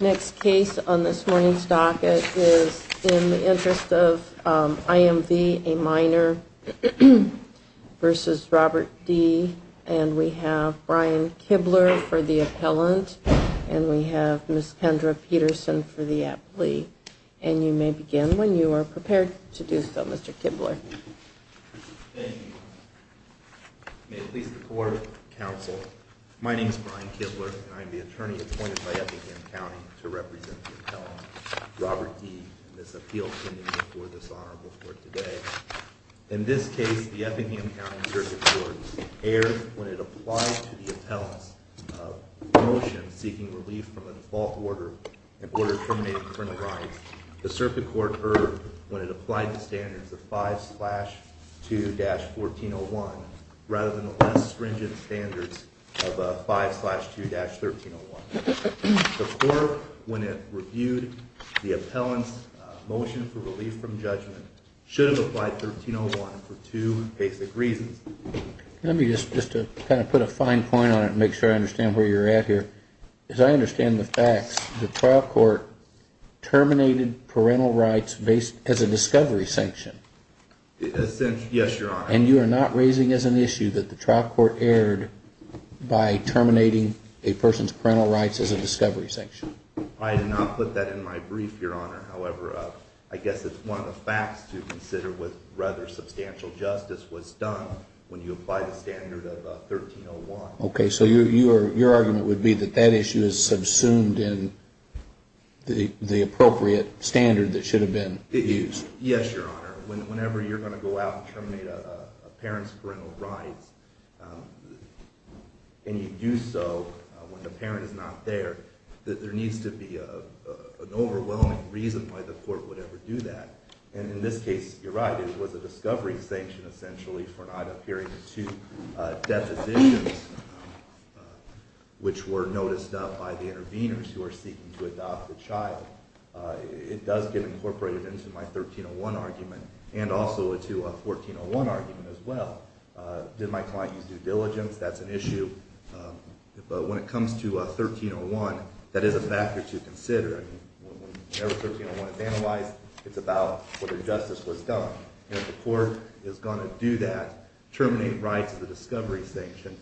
Next case on this morning's docket is In the Interest of I.M. v. a Minor v. Robert D. And we have Brian Kibler for the appellant. And we have Ms. Kendra Peterson for the applee. And you may begin when you are prepared to do so, Mr. Kibler. Thank you. May it please the Court of Counsel, My name is Brian Kibler and I am the attorney appointed by Eppingham County to represent the appellant, Robert D. in this appeal pending before this honorable court today. In this case, the Eppingham County Circuit Court erred when it applied to the appellant's motion seeking relief from a default order in order to terminate the criminal rights. The Circuit Court erred when it applied the standards of 5-2-1401 rather than the less stringent standards of 5-2-1301. The Court, when it reviewed the appellant's motion for relief from judgment, should have applied 1301 for two basic reasons. Let me just kind of put a fine point on it and make sure I understand where you're at here. As I understand the facts, the trial court terminated parental rights as a discovery sanction. Yes, Your Honor. And you are not raising as an issue that the trial court erred by terminating a person's parental rights as a discovery sanction. I did not put that in my brief, Your Honor. However, I guess it's one of the facts to consider what rather substantial justice was done when you applied the standard of 1301. Okay, so your argument would be that that issue is subsumed in the appropriate standard that should have been used. Yes, Your Honor. Whenever you're going to go out and terminate a parent's parental rights and you do so when the parent is not there, there needs to be an overwhelming reason why the court would ever do that. And in this case, you're right, it was a discovery sanction essentially for not adhering to depositions which were noticed by the interveners who are seeking to adopt the child. It does get incorporated into my 1301 argument and also into a 1401 argument as well. Did my client use due diligence? That's an issue. But when it comes to 1301, that is a factor to consider. Whenever 1301 is analyzed, it's about whether justice was done. And if the court is going to do that, terminate rights of the discovery sanction,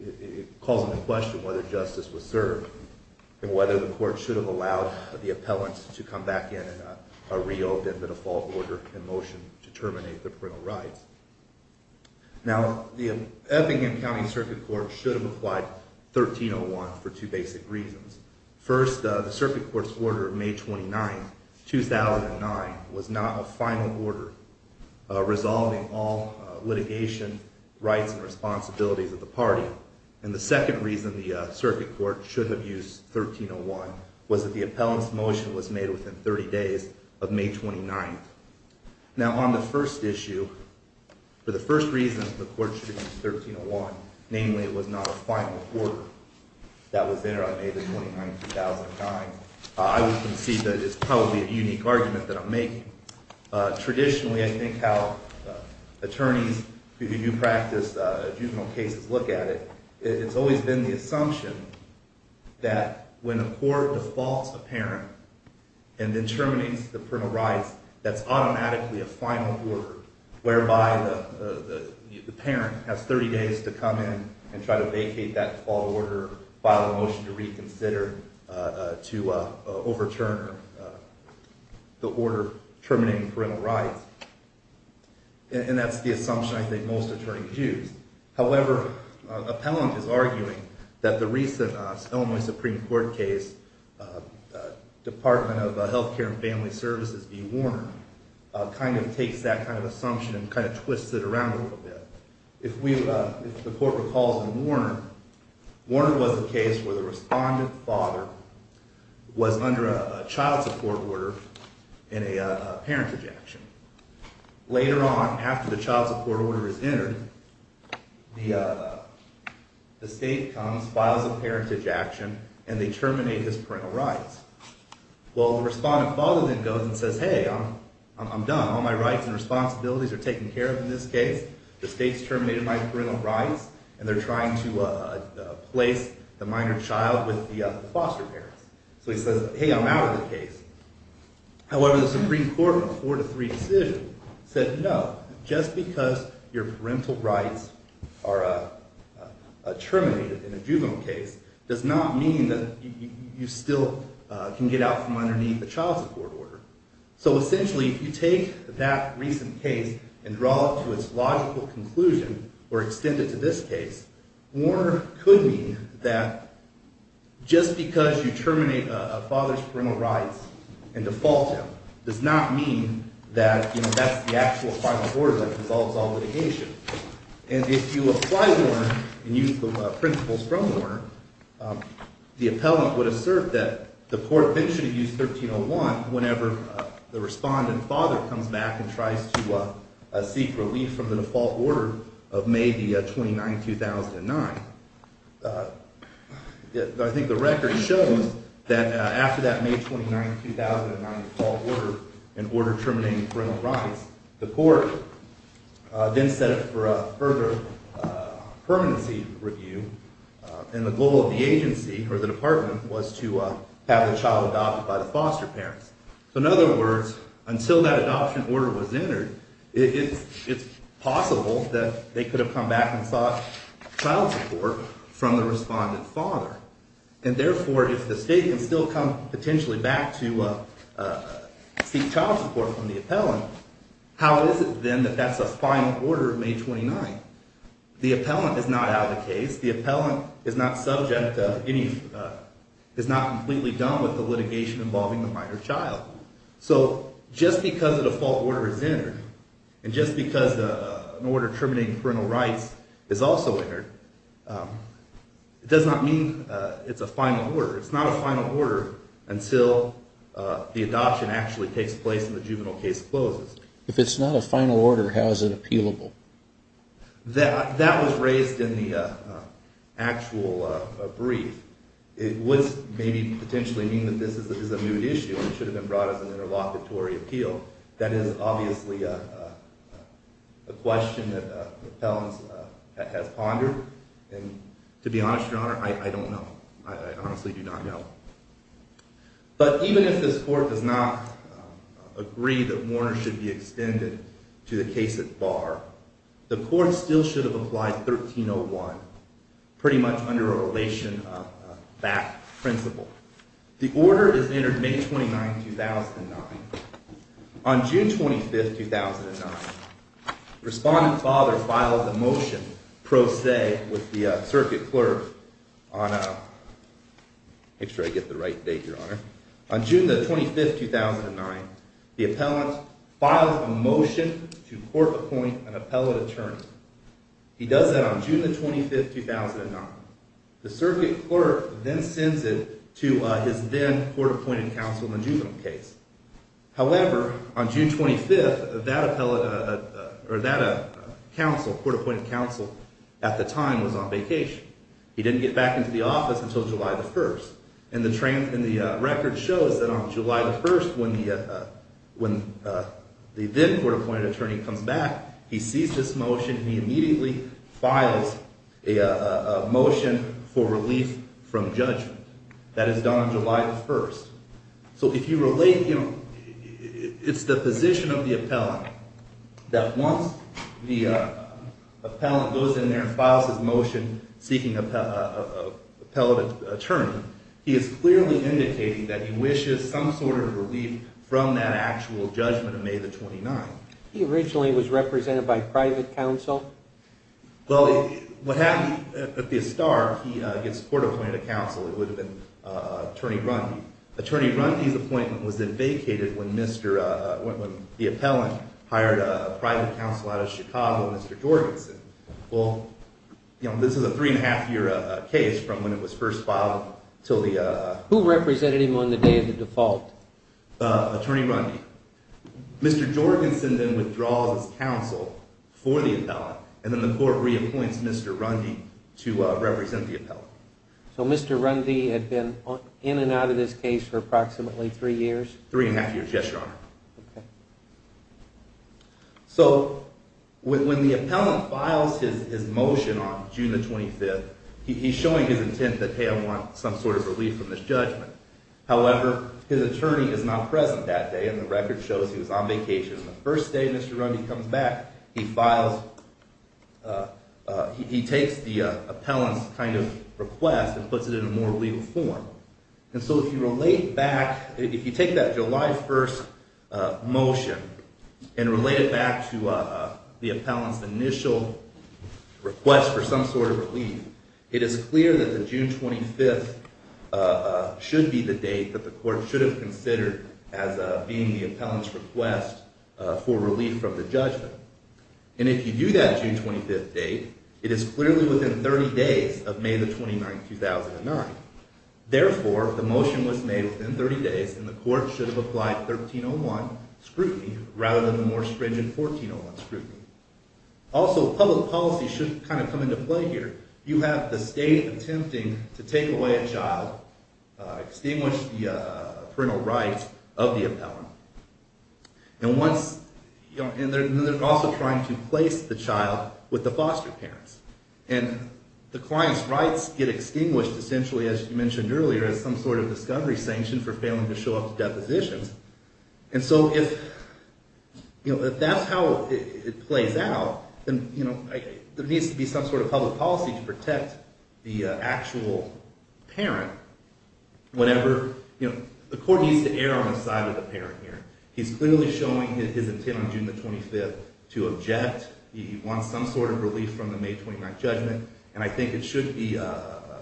it calls into question whether justice was served and whether the court should have allowed the appellant to come back in and reopen the default order in motion to terminate the parental rights. Now, the Effingham County Circuit Court should have applied 1301 for two basic reasons. First, the Circuit Court's order of May 29, 2009, was not a final order resolving all litigation rights and responsibilities of the party. And the second reason the Circuit Court should have used 1301 was that the appellant's motion was made within 30 days of May 29. Now, on the first issue, for the first reason the court should have used 1301, namely it was not a final order that was entered on May 29, 2009, I would concede that it's probably a unique argument that I'm making. Traditionally, I think how attorneys who do practice juvenile cases look at it, it's always been the assumption that when a court defaults a parent and then terminates the parental rights, that's automatically a final order, whereby the parent has 30 days to come in and try to vacate that default order, or file a motion to reconsider, to overturn the order terminating parental rights. And that's the assumption I think most attorneys use. However, an appellant is arguing that the recent Illinois Supreme Court case, Department of Health Care and Family Services v. Warner, kind of takes that kind of assumption and kind of twists it around a little bit. If the court recalls in Warner, Warner was the case where the respondent father was under a child support order and a parentage action. Later on, after the child support order is entered, the state comes, files a parentage action, and they terminate his parental rights. Well, the respondent father then goes and says, hey, I'm done. All my rights and responsibilities are taken care of in this case. The state's terminated my parental rights, and they're trying to place the minor child with the foster parents. So he says, hey, I'm out of the case. However, the Supreme Court, in a 4-3 decision, said no. Just because your parental rights are terminated in a juvenile case does not mean that you still can get out from underneath a child support order. So essentially, if you take that recent case and draw it to its logical conclusion or extend it to this case, Warner could mean that just because you terminate a father's parental rights and default him does not mean that that's the actual final order that resolves all litigation. And if you apply Warner and use the principles from Warner, the appellant would assert that the court should have used 1301 whenever the respondent father comes back and tries to seek relief from the default order of May 29, 2009. I think the record shows that after that May 29, 2009 default order and order terminating parental rights, the court then set up for a further permanency review. And the goal of the agency, or the department, was to have the child adopted by the foster parents. So in other words, until that adoption order was entered, it's possible that they could have come back and sought child support from the respondent father. And therefore, if the state can still come potentially back to seek child support from the appellant, how is it then that that's a final order of May 29? The appellant is not out of the case. The appellant is not completely done with the litigation involving the minor child. So just because a default order is entered and just because an order terminating parental rights is also entered, it does not mean it's a final order. It's not a final order until the adoption actually takes place and the juvenile case closes. If it's not a final order, how is it appealable? That was raised in the actual brief. It would maybe potentially mean that this is a moot issue and should have been brought as an interlocutory appeal. That is obviously a question that appellants have pondered. And to be honest, Your Honor, I don't know. I honestly do not know. But even if this court does not agree that Warner should be extended to the case at bar, the court still should have applied 1301 pretty much under a relation back principle. The order is entered May 29, 2009. On June 25, 2009, the respondent father filed a motion pro se with the circuit clerk on June 25, 2009. The appellant filed a motion to court-appoint an appellate attorney. He does that on June 25, 2009. The circuit clerk then sends it to his then-court-appointed counsel in the juvenile case. However, on June 25, that counsel, court-appointed counsel, at the time was on vacation. He didn't get back into the office until July 1. And the record shows that on July 1, when the then-court-appointed attorney comes back, he sees this motion and he immediately files a motion for relief from judgment. That is done on July 1. So if you relate, you know, it's the position of the appellant that once the appellant goes in there and files his motion seeking an appellate attorney, he is clearly indicating that he wishes some sort of relief from that actual judgment of May the 29th. He originally was represented by private counsel? Well, what happened at the start, he gets court-appointed a counsel. It would have been Attorney Rundy. Attorney Rundy's appointment was then vacated when the appellant hired a private counsel out of Chicago, Mr. Jorgensen. Well, you know, this is a three-and-a-half-year case from when it was first filed until the... Who represented him on the day of the default? Attorney Rundy. Mr. Jorgensen then withdraws his counsel for the appellant, and then the court reappoints Mr. Rundy to represent the appellant. So Mr. Rundy had been in and out of this case for approximately three years? Three-and-a-half years, yes, Your Honor. Okay. So when the appellant files his motion on June the 25th, he's showing his intent that, hey, I want some sort of relief from this judgment. However, his attorney is not present that day, and the record shows he was on vacation. The first day Mr. Rundy comes back, he files... He takes the appellant's kind of request and puts it in a more legal form. And so if you relate back... If you take that July 1st motion and relate it back to the appellant's initial request for some sort of relief, it is clear that the June 25th should be the date that the court should have considered as being the appellant's request for relief from the judgment. And if you do that June 25th date, it is clearly within 30 days of May the 29th, 2009. Therefore, the motion was made within 30 days, and the court should have applied 1301 scrutiny rather than the more stringent 1401 scrutiny. Also, public policy should kind of come into play here. You have the state attempting to take away a child, extinguish the parental rights of the appellant. And once... And they're also trying to place the child with the foster parents. And the client's rights get extinguished, essentially, as you mentioned earlier, as some sort of discovery sanction for failing to show up to depositions. And so if that's how it plays out, then there needs to be some sort of public policy to protect the actual parent whenever... You know, the court needs to err on the side of the parent here. He's clearly showing his intent on June the 25th to object. He wants some sort of relief from the May 29th judgment, and I think it should be...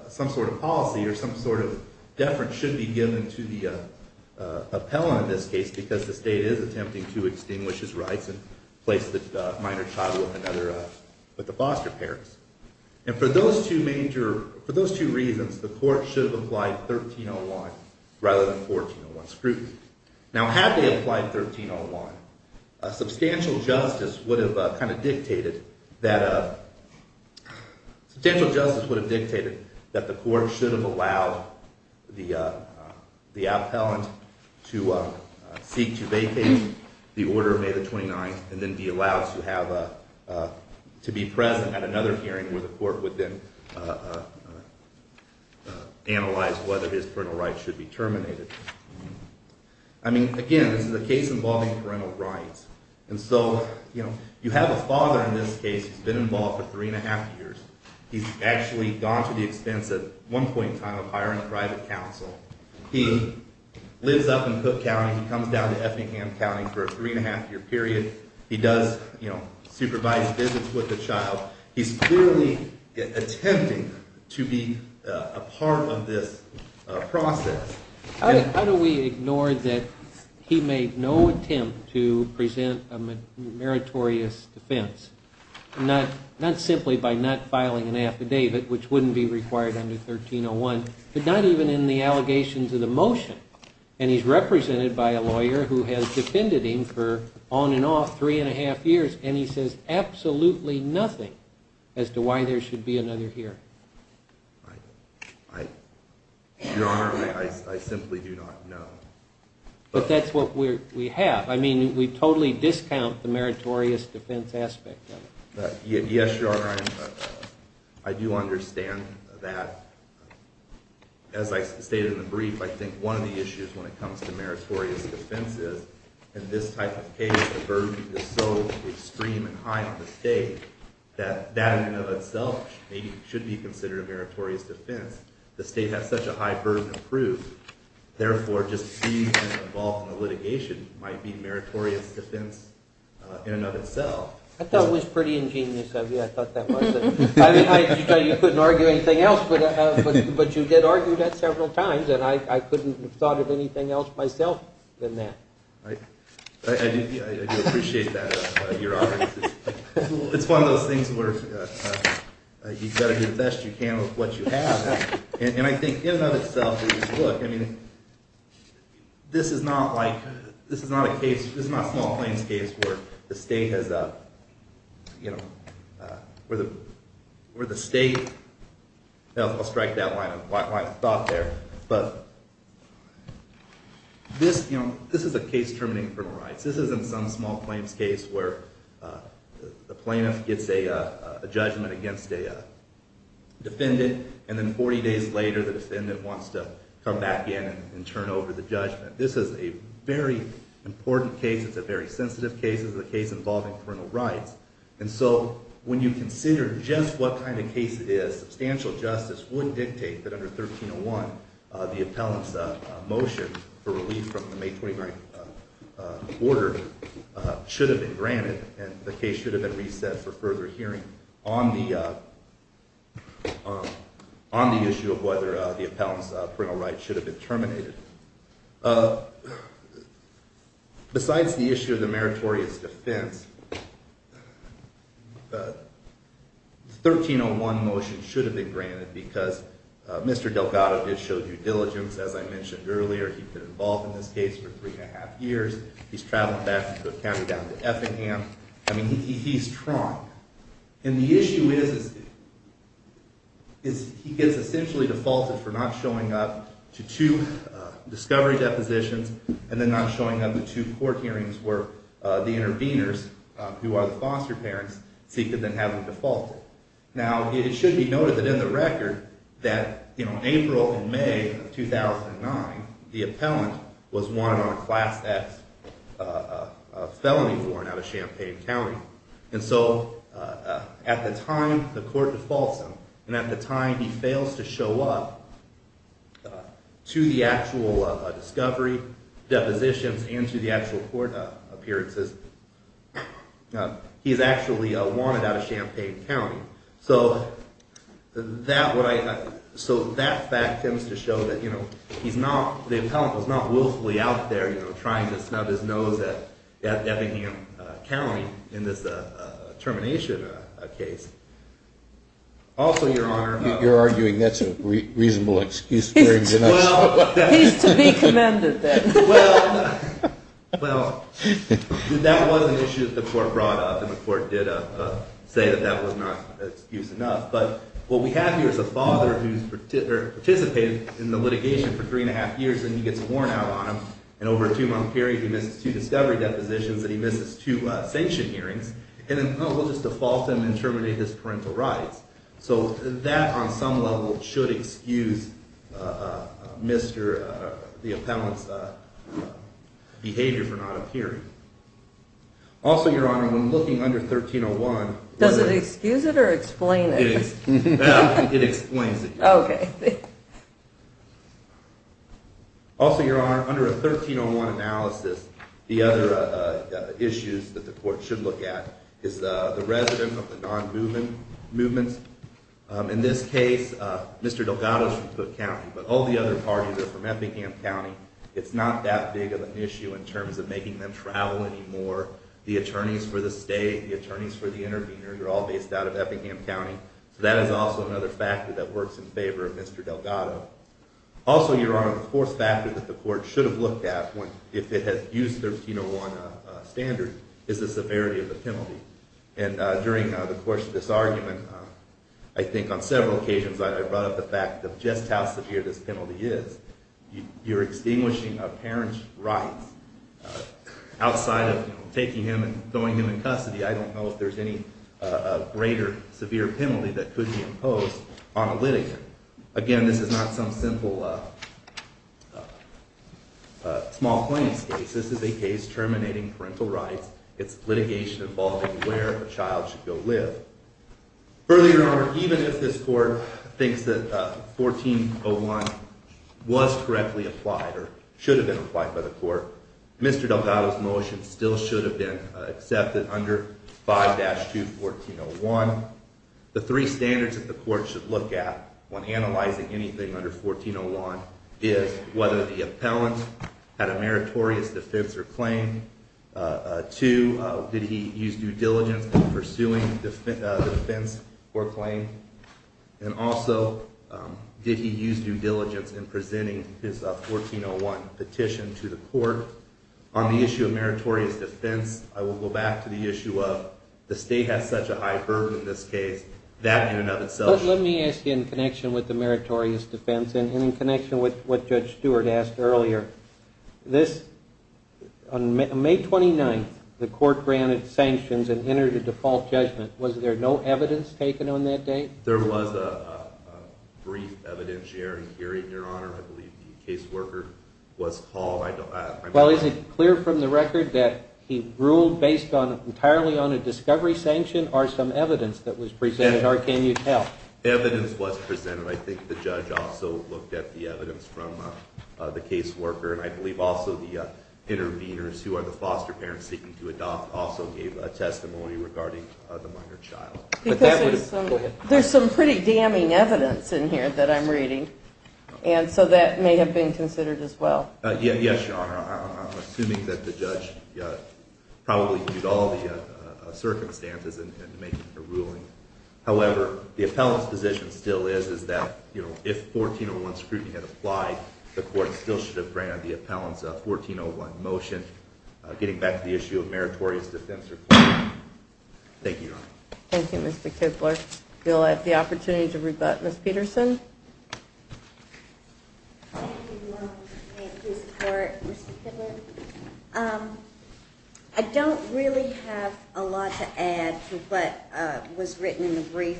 Some sort of policy or some sort of deference should be given to the appellant in this case because the state is attempting to extinguish his rights and place the minor child with the foster parents. And for those two major... For those two reasons, the court should have applied 1301 rather than 1401 scrutiny. Now, had they applied 1301, substantial justice would have kind of dictated that... Substantial justice would have dictated that the court should have allowed the appellant to seek to vacate the order of May the 29th and then be allowed to have... To be present at another hearing where the court would then... Analyze whether his parental rights should be terminated. I mean, again, this is a case involving parental rights. And so, you know, you have a father in this case who's been involved for 3½ years. He's actually gone to the expense at one point in time of hiring a private counsel. He lives up in Cook County. He comes down to Effingham County for a 3½-year period. He does, you know, supervised visits with the child. He's clearly attempting to be a part of this process. How do we ignore that he made no attempt to present a meritorious defense? Not simply by not filing an affidavit, which wouldn't be required under 1301, but not even in the allegations of the motion. And he's represented by a lawyer who has defended him for on and off 3½ years, and he says absolutely nothing as to why there should be another hearing. Your Honor, I simply do not know. But that's what we have. I mean, we totally discount the meritorious defense aspect of it. Yes, Your Honor, I do understand that. As I stated in the brief, I think one of the issues when it comes to meritorious defense is in this type of case, the burden is so extreme and high on the state that that in and of itself maybe should be considered a meritorious defense. The state has such a high burden of proof. Therefore, just being involved in the litigation might be meritorious defense in and of itself. I thought it was pretty ingenious of you. I thought that was it. I just thought you couldn't argue anything else, but you did argue that several times, and I couldn't have thought of anything else myself than that. I do appreciate that, Your Honor. It's one of those things where you've got to do the best you can with what you have. And I think in and of itself, look, I mean, this is not a case, this is not Small Plains case where the state has, you know, where the state, I'll strike that line of thought there, but this is a case terminating criminal rights. This isn't some Small Plains case where the plaintiff gets a judgment against a defendant, and then 40 days later, the defendant wants to come back in and turn over the judgment. This is a very important case. It's a very sensitive case. It's a case involving criminal rights. And so when you consider just what kind of case it is, substantial justice would dictate that under 1301, the appellant's motion for relief from the May 29th order should have been granted, and the case should have been reset for further hearing on the issue of whether the appellant's criminal rights should have been terminated. Besides the issue of the meritorious defense, the 1301 motion should have been granted because Mr. Delgado did show due diligence, as I mentioned earlier. He'd been involved in this case for three and a half years. He's traveled back from Cook County down to Effingham. I mean, he's strong. And the issue is he gets essentially defaulted for not showing up to two discovery depositions and then not showing up to two court hearings where the interveners, who are the foster parents, seek to then have him defaulted. Now, it should be noted that in the record that April and May of 2009, the appellant was wanted on a Class X felony warrant out of Champaign County. And so at the time the court defaults him, and at the time he fails to show up to the actual discovery depositions and to the actual court appearances, he's actually wanted out of Champaign County. So that fact tends to show that the appellant was not willfully out there trying to snub his nose at Effingham County in this termination case. Also, Your Honor. You're arguing that's a reasonable excuse. He's to be commended then. Well, that was an issue that the court brought up, and the court did say that that was not an excuse enough. But what we have here is a father who's participated in the litigation for three and a half years, and he gets a warrant out on him, and over a two-month period he misses two discovery depositions and he misses two sanction hearings. And then, oh, we'll just default him and terminate his parental rights. So that on some level should excuse the appellant's behavior for not appearing. Also, Your Honor, when looking under 1301... Does it excuse it or explain it? It explains it. Okay. Also, Your Honor, under a 1301 analysis, the other issues that the court should look at is the resident of the non-movement movements. In this case, Mr. Delgado is from Cook County, but all the other parties are from Effingham County. It's not that big of an issue in terms of making them travel anymore. The attorneys for the state, the attorneys for the intervenors are all based out of Effingham County. So that is also another factor that works in favor of Mr. Delgado. Also, Your Honor, the fourth factor that the court should have looked at if it had used the 1301 standard is the severity of the penalty. And during the course of this argument, I think on several occasions I brought up the fact of just how severe this penalty is. You're extinguishing a parent's rights outside of taking him and throwing him in custody. I don't know if there's any greater severe penalty that could be imposed on a litigant. Again, this is not some simple small plaintiff's case. This is a case terminating parental rights. It's litigation involving where a child should go live. Further, Your Honor, even if this court thinks that 1401 was correctly applied or should have been applied by the court, Mr. Delgado's motion still should have been accepted under 5-2-1401. The three standards that the court should look at when analyzing anything under 1401 is whether the appellant had a meritorious defense or claim, two, did he use due diligence in pursuing defense or claim, and also did he use due diligence in presenting his 1401 petition to the court. On the issue of meritorious defense, I will go back to the issue of the state has such a high burden in this case, that in and of itself. Let me ask you in connection with the meritorious defense and in connection with what Judge Stewart asked earlier. On May 29th, the court granted sanctions and entered a default judgment. Was there no evidence taken on that date? There was a brief evidentiary hearing, Your Honor. I believe the caseworker was called. Well, is it clear from the record that he ruled based entirely on a discovery sanction or some evidence that was presented or can you tell? Evidence was presented. I think the judge also looked at the evidence from the caseworker and I believe also the interveners who are the foster parents seeking to adopt also gave a testimony regarding the minor child. There's some pretty damning evidence in here that I'm reading, and so that may have been considered as well. Yes, Your Honor. I'm assuming that the judge probably viewed all the circumstances in making the ruling. However, the appellant's position still is that if 1401 scrutiny had applied, the court still should have granted the appellant's 1401 motion, getting back to the issue of meritorious defense. Thank you, Your Honor. Thank you, Mr. Koeppler. We'll have the opportunity to rebut Ms. Peterson. Thank you, Your Honor. Thank you for your support, Mr. Koeppler. I don't really have a lot to add to what was written in the brief,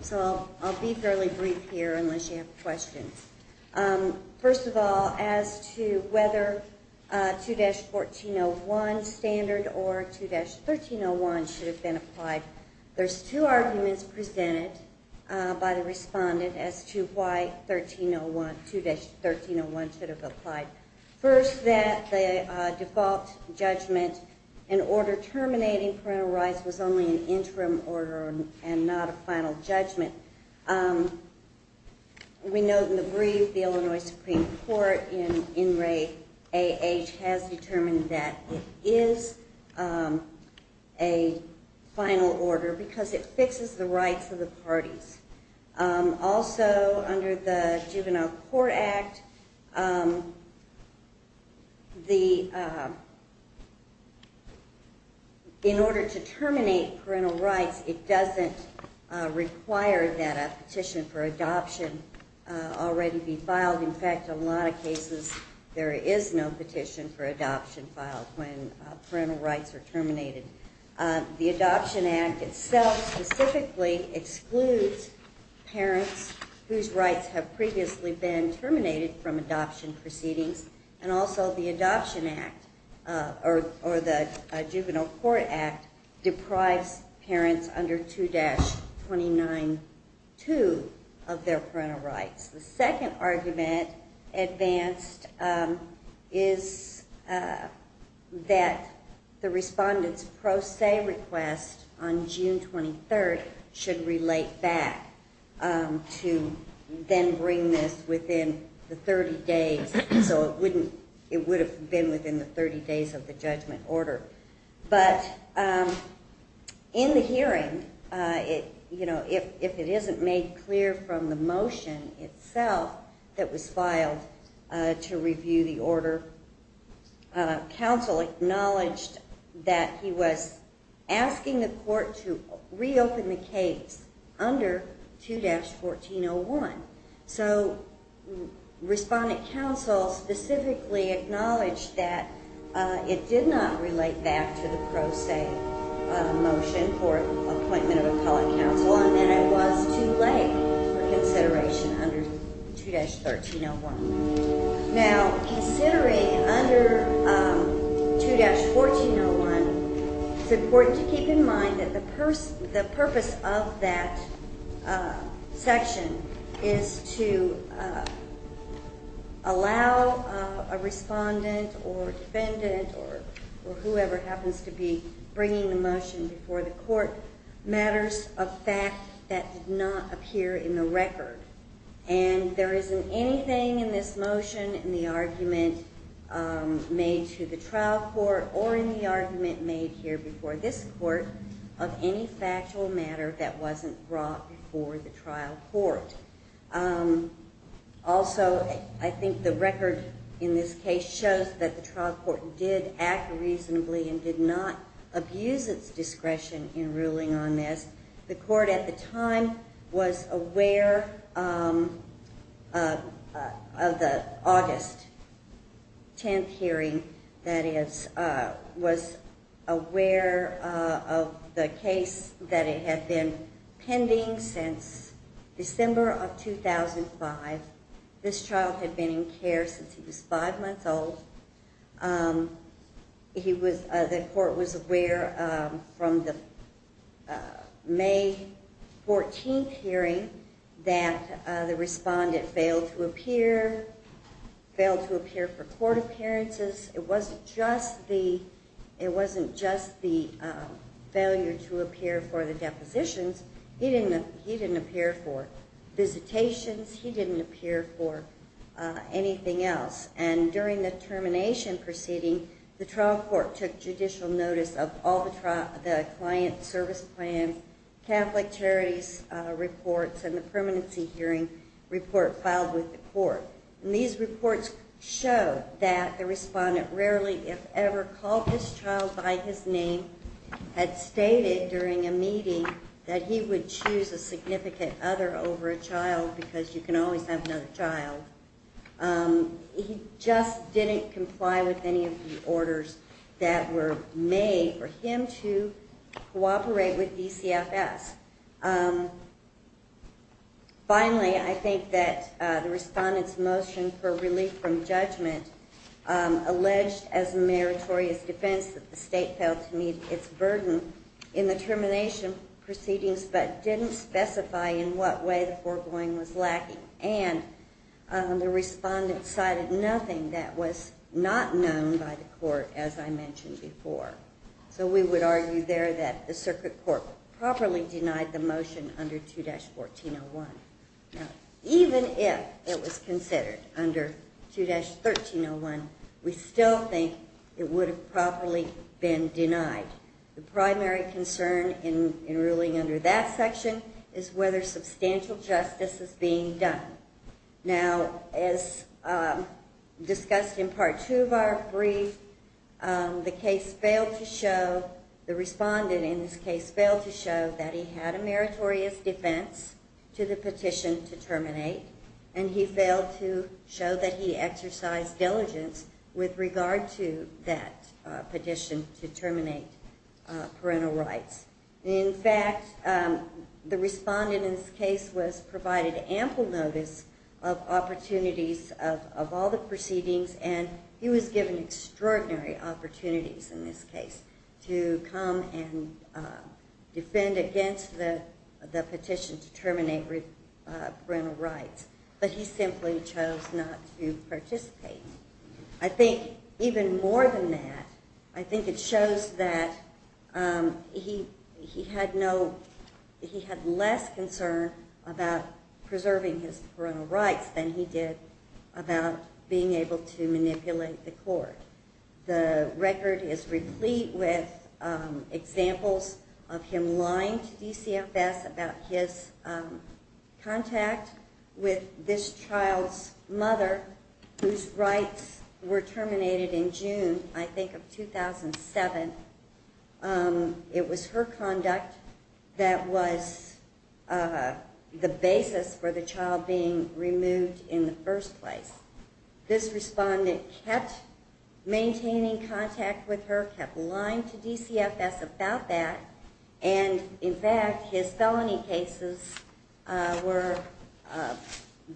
so I'll be fairly brief here unless you have questions. First of all, as to whether 2-1401 standard or 2-1301 should have been applied, there's two arguments presented by the respondent as to why 2-1301 should have applied. First, that the default judgment and order terminating parental rights was only an interim order and not a final judgment. We know from the brief the Illinois Supreme Court in Ray A. H. has determined that it is a final order because it fixes the rights of the parties. Also, under the Juvenile Court Act, in order to terminate parental rights, it doesn't require that a petition for adoption already be filed. In fact, in a lot of cases, there is no petition for adoption filed when parental rights are terminated. The Adoption Act itself specifically excludes parents whose rights have previously been terminated from adoption proceedings, and also the Adoption Act or the Juvenile Court Act deprives parents under 2-292 of their parental rights. The second argument advanced is that the respondent's pro se request on June 23rd should relate back to then bring this within the 30 days, so it would have been within the 30 days of the judgment order. But in the hearing, if it isn't made clear from the motion itself that was filed to review the order, counsel acknowledged that he was asking the court to reopen the case under 2-1401. So, respondent counsel specifically acknowledged that it did not relate back to the pro se motion for appointment of appellate counsel and that it was too late for consideration under 2-1301. Now, considering under 2-1401, it's important to keep in mind that the purpose of that section is to allow a respondent or defendant or whoever happens to be bringing the motion before the court matters of fact that did not appear in the record. And there isn't anything in this motion, in the argument made to the trial court, or in the argument made here before this court, of any factual matter that wasn't brought before the trial court. Also, I think the record in this case shows that the trial court did act reasonably and did not abuse its discretion in ruling on this. The court at the time was aware of the August 10th hearing, that is, was aware of the case that had been pending since December of 2005. This child had been in care since he was 5 months old. The court was aware from the May 14th hearing that the respondent failed to appear, failed to appear for court appearances. It wasn't just the failure to appear for the depositions. He didn't appear for visitations. He didn't appear for anything else. And during the termination proceeding, the trial court took judicial notice of all the client service plan, Catholic Charities reports, and the permanency hearing report filed with the court. And these reports show that the respondent rarely, if ever, called this child by his name, had stated during a meeting that he would choose a significant other over a child because you can always have another child. He just didn't comply with any of the orders that were made for him to cooperate with DCFS. Finally, I think that the respondent's motion for relief from judgment alleged as a meritorious defense that the state failed to meet its burden in the termination proceedings, but didn't specify in what way the foregoing was lacking. And the respondent cited nothing that was not known by the court, as I mentioned before. So we would argue there that the circuit court properly denied the motion under 2-1401. Now, even if it was considered under 2-1301, we still think it would have properly been denied. The primary concern in ruling under that section is whether substantial justice is being done. Now, as discussed in Part 2 of our brief, the case failed to show, the respondent in this case failed to show that he had a meritorious defense to the petition to terminate, and he failed to show that he exercised diligence with regard to that petition to terminate parental rights. In fact, the respondent in this case was provided ample notice of opportunities of all the proceedings, and he was given extraordinary opportunities in this case to come and defend against the petition to terminate parental rights, but he simply chose not to participate. I think even more than that, I think it shows that he had less concern about preserving his parental rights than he did about being able to manipulate the court. The record is replete with examples of him lying to DCFS about his contact with this child's mother, whose rights were terminated in June, I think, of 2007. It was her conduct that was the basis for the child being removed in the first place. This respondent kept maintaining contact with her, kept lying to DCFS about that, and, in fact, his felony cases were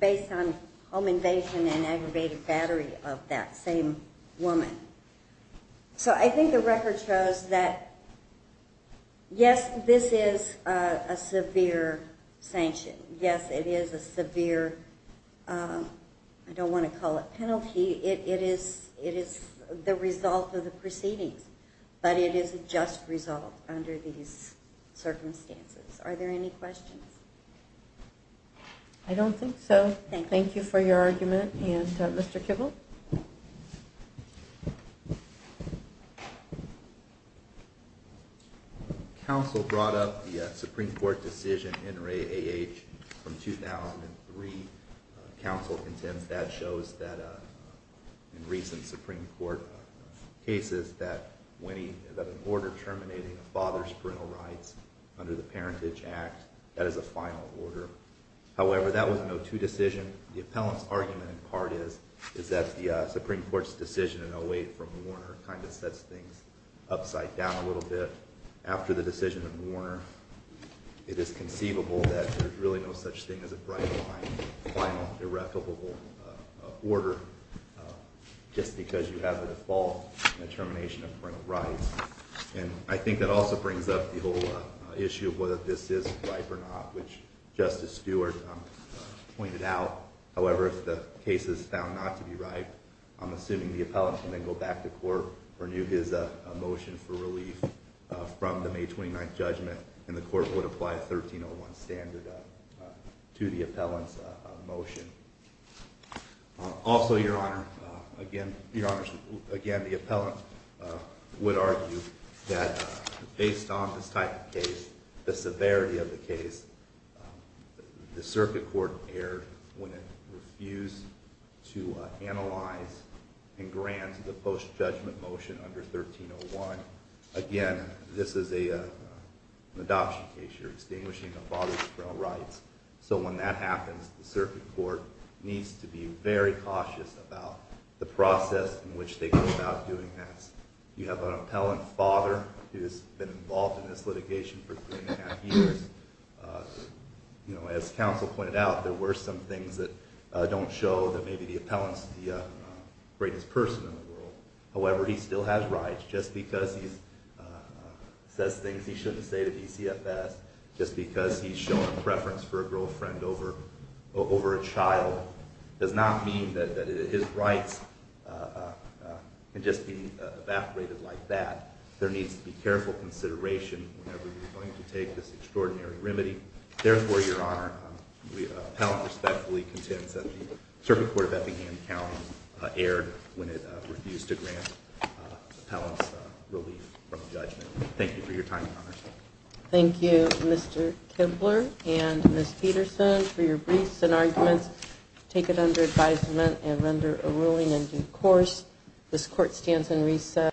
based on home invasion and aggravated battery of that same woman. So I think the record shows that, yes, this is a severe sanction. Yes, it is a severe, I don't want to call it penalty. It is the result of the proceedings, but it is a just result under these circumstances. Are there any questions? I don't think so. Thank you for your argument. And Mr. Kibble? Counsel brought up the Supreme Court decision, NRA AH, from 2003. Counsel contends that shows that in recent Supreme Court cases that an order terminating a father's parental rights under the Parentage Act, that is a final order. However, that was an 0-2 decision. The appellant's argument, in part, is that the Supreme Court's decision in 08 from Warner kind of sets things upside down a little bit. After the decision in Warner, it is conceivable that there's really no such thing as a bright-line, final, irrevocable order. Just because you have a default in the termination of parental rights. And I think that also brings up the whole issue of whether this is ripe or not, which Justice Stewart pointed out. However, if the case is found not to be ripe, I'm assuming the appellant can then go back to court for his motion for relief from the May 29th judgment, and the court would apply a 1301 standard to the appellant's motion. Also, Your Honor, again, the appellant would argue that based on this type of case, the severity of the case, the circuit court erred when it refused to analyze and grant the post-judgment motion under 1301. Again, this is an adoption case. You're extinguishing a father's parental rights. So when that happens, the circuit court needs to be very cautious about the process in which they go about doing this. You have an appellant father who's been involved in this litigation for three and a half years. As counsel pointed out, there were some things that don't show that maybe the appellant's the greatest person in the world. However, he still has rights. Just because he says things he shouldn't say to DCFS, just because he's shown a preference for a girlfriend over a child, does not mean that his rights can just be evaporated like that. There needs to be careful consideration whenever you're going to take this extraordinary remedy. Therefore, Your Honor, the appellant respectfully contends that the circuit court of Effingham County erred when it refused to grant the appellant's relief from judgment. Thank you for your time, Your Honor. Thank you, Mr. Kibler and Ms. Peterson, for your briefs and arguments. Take it under advisement and render a ruling in due course. This court stands in recess.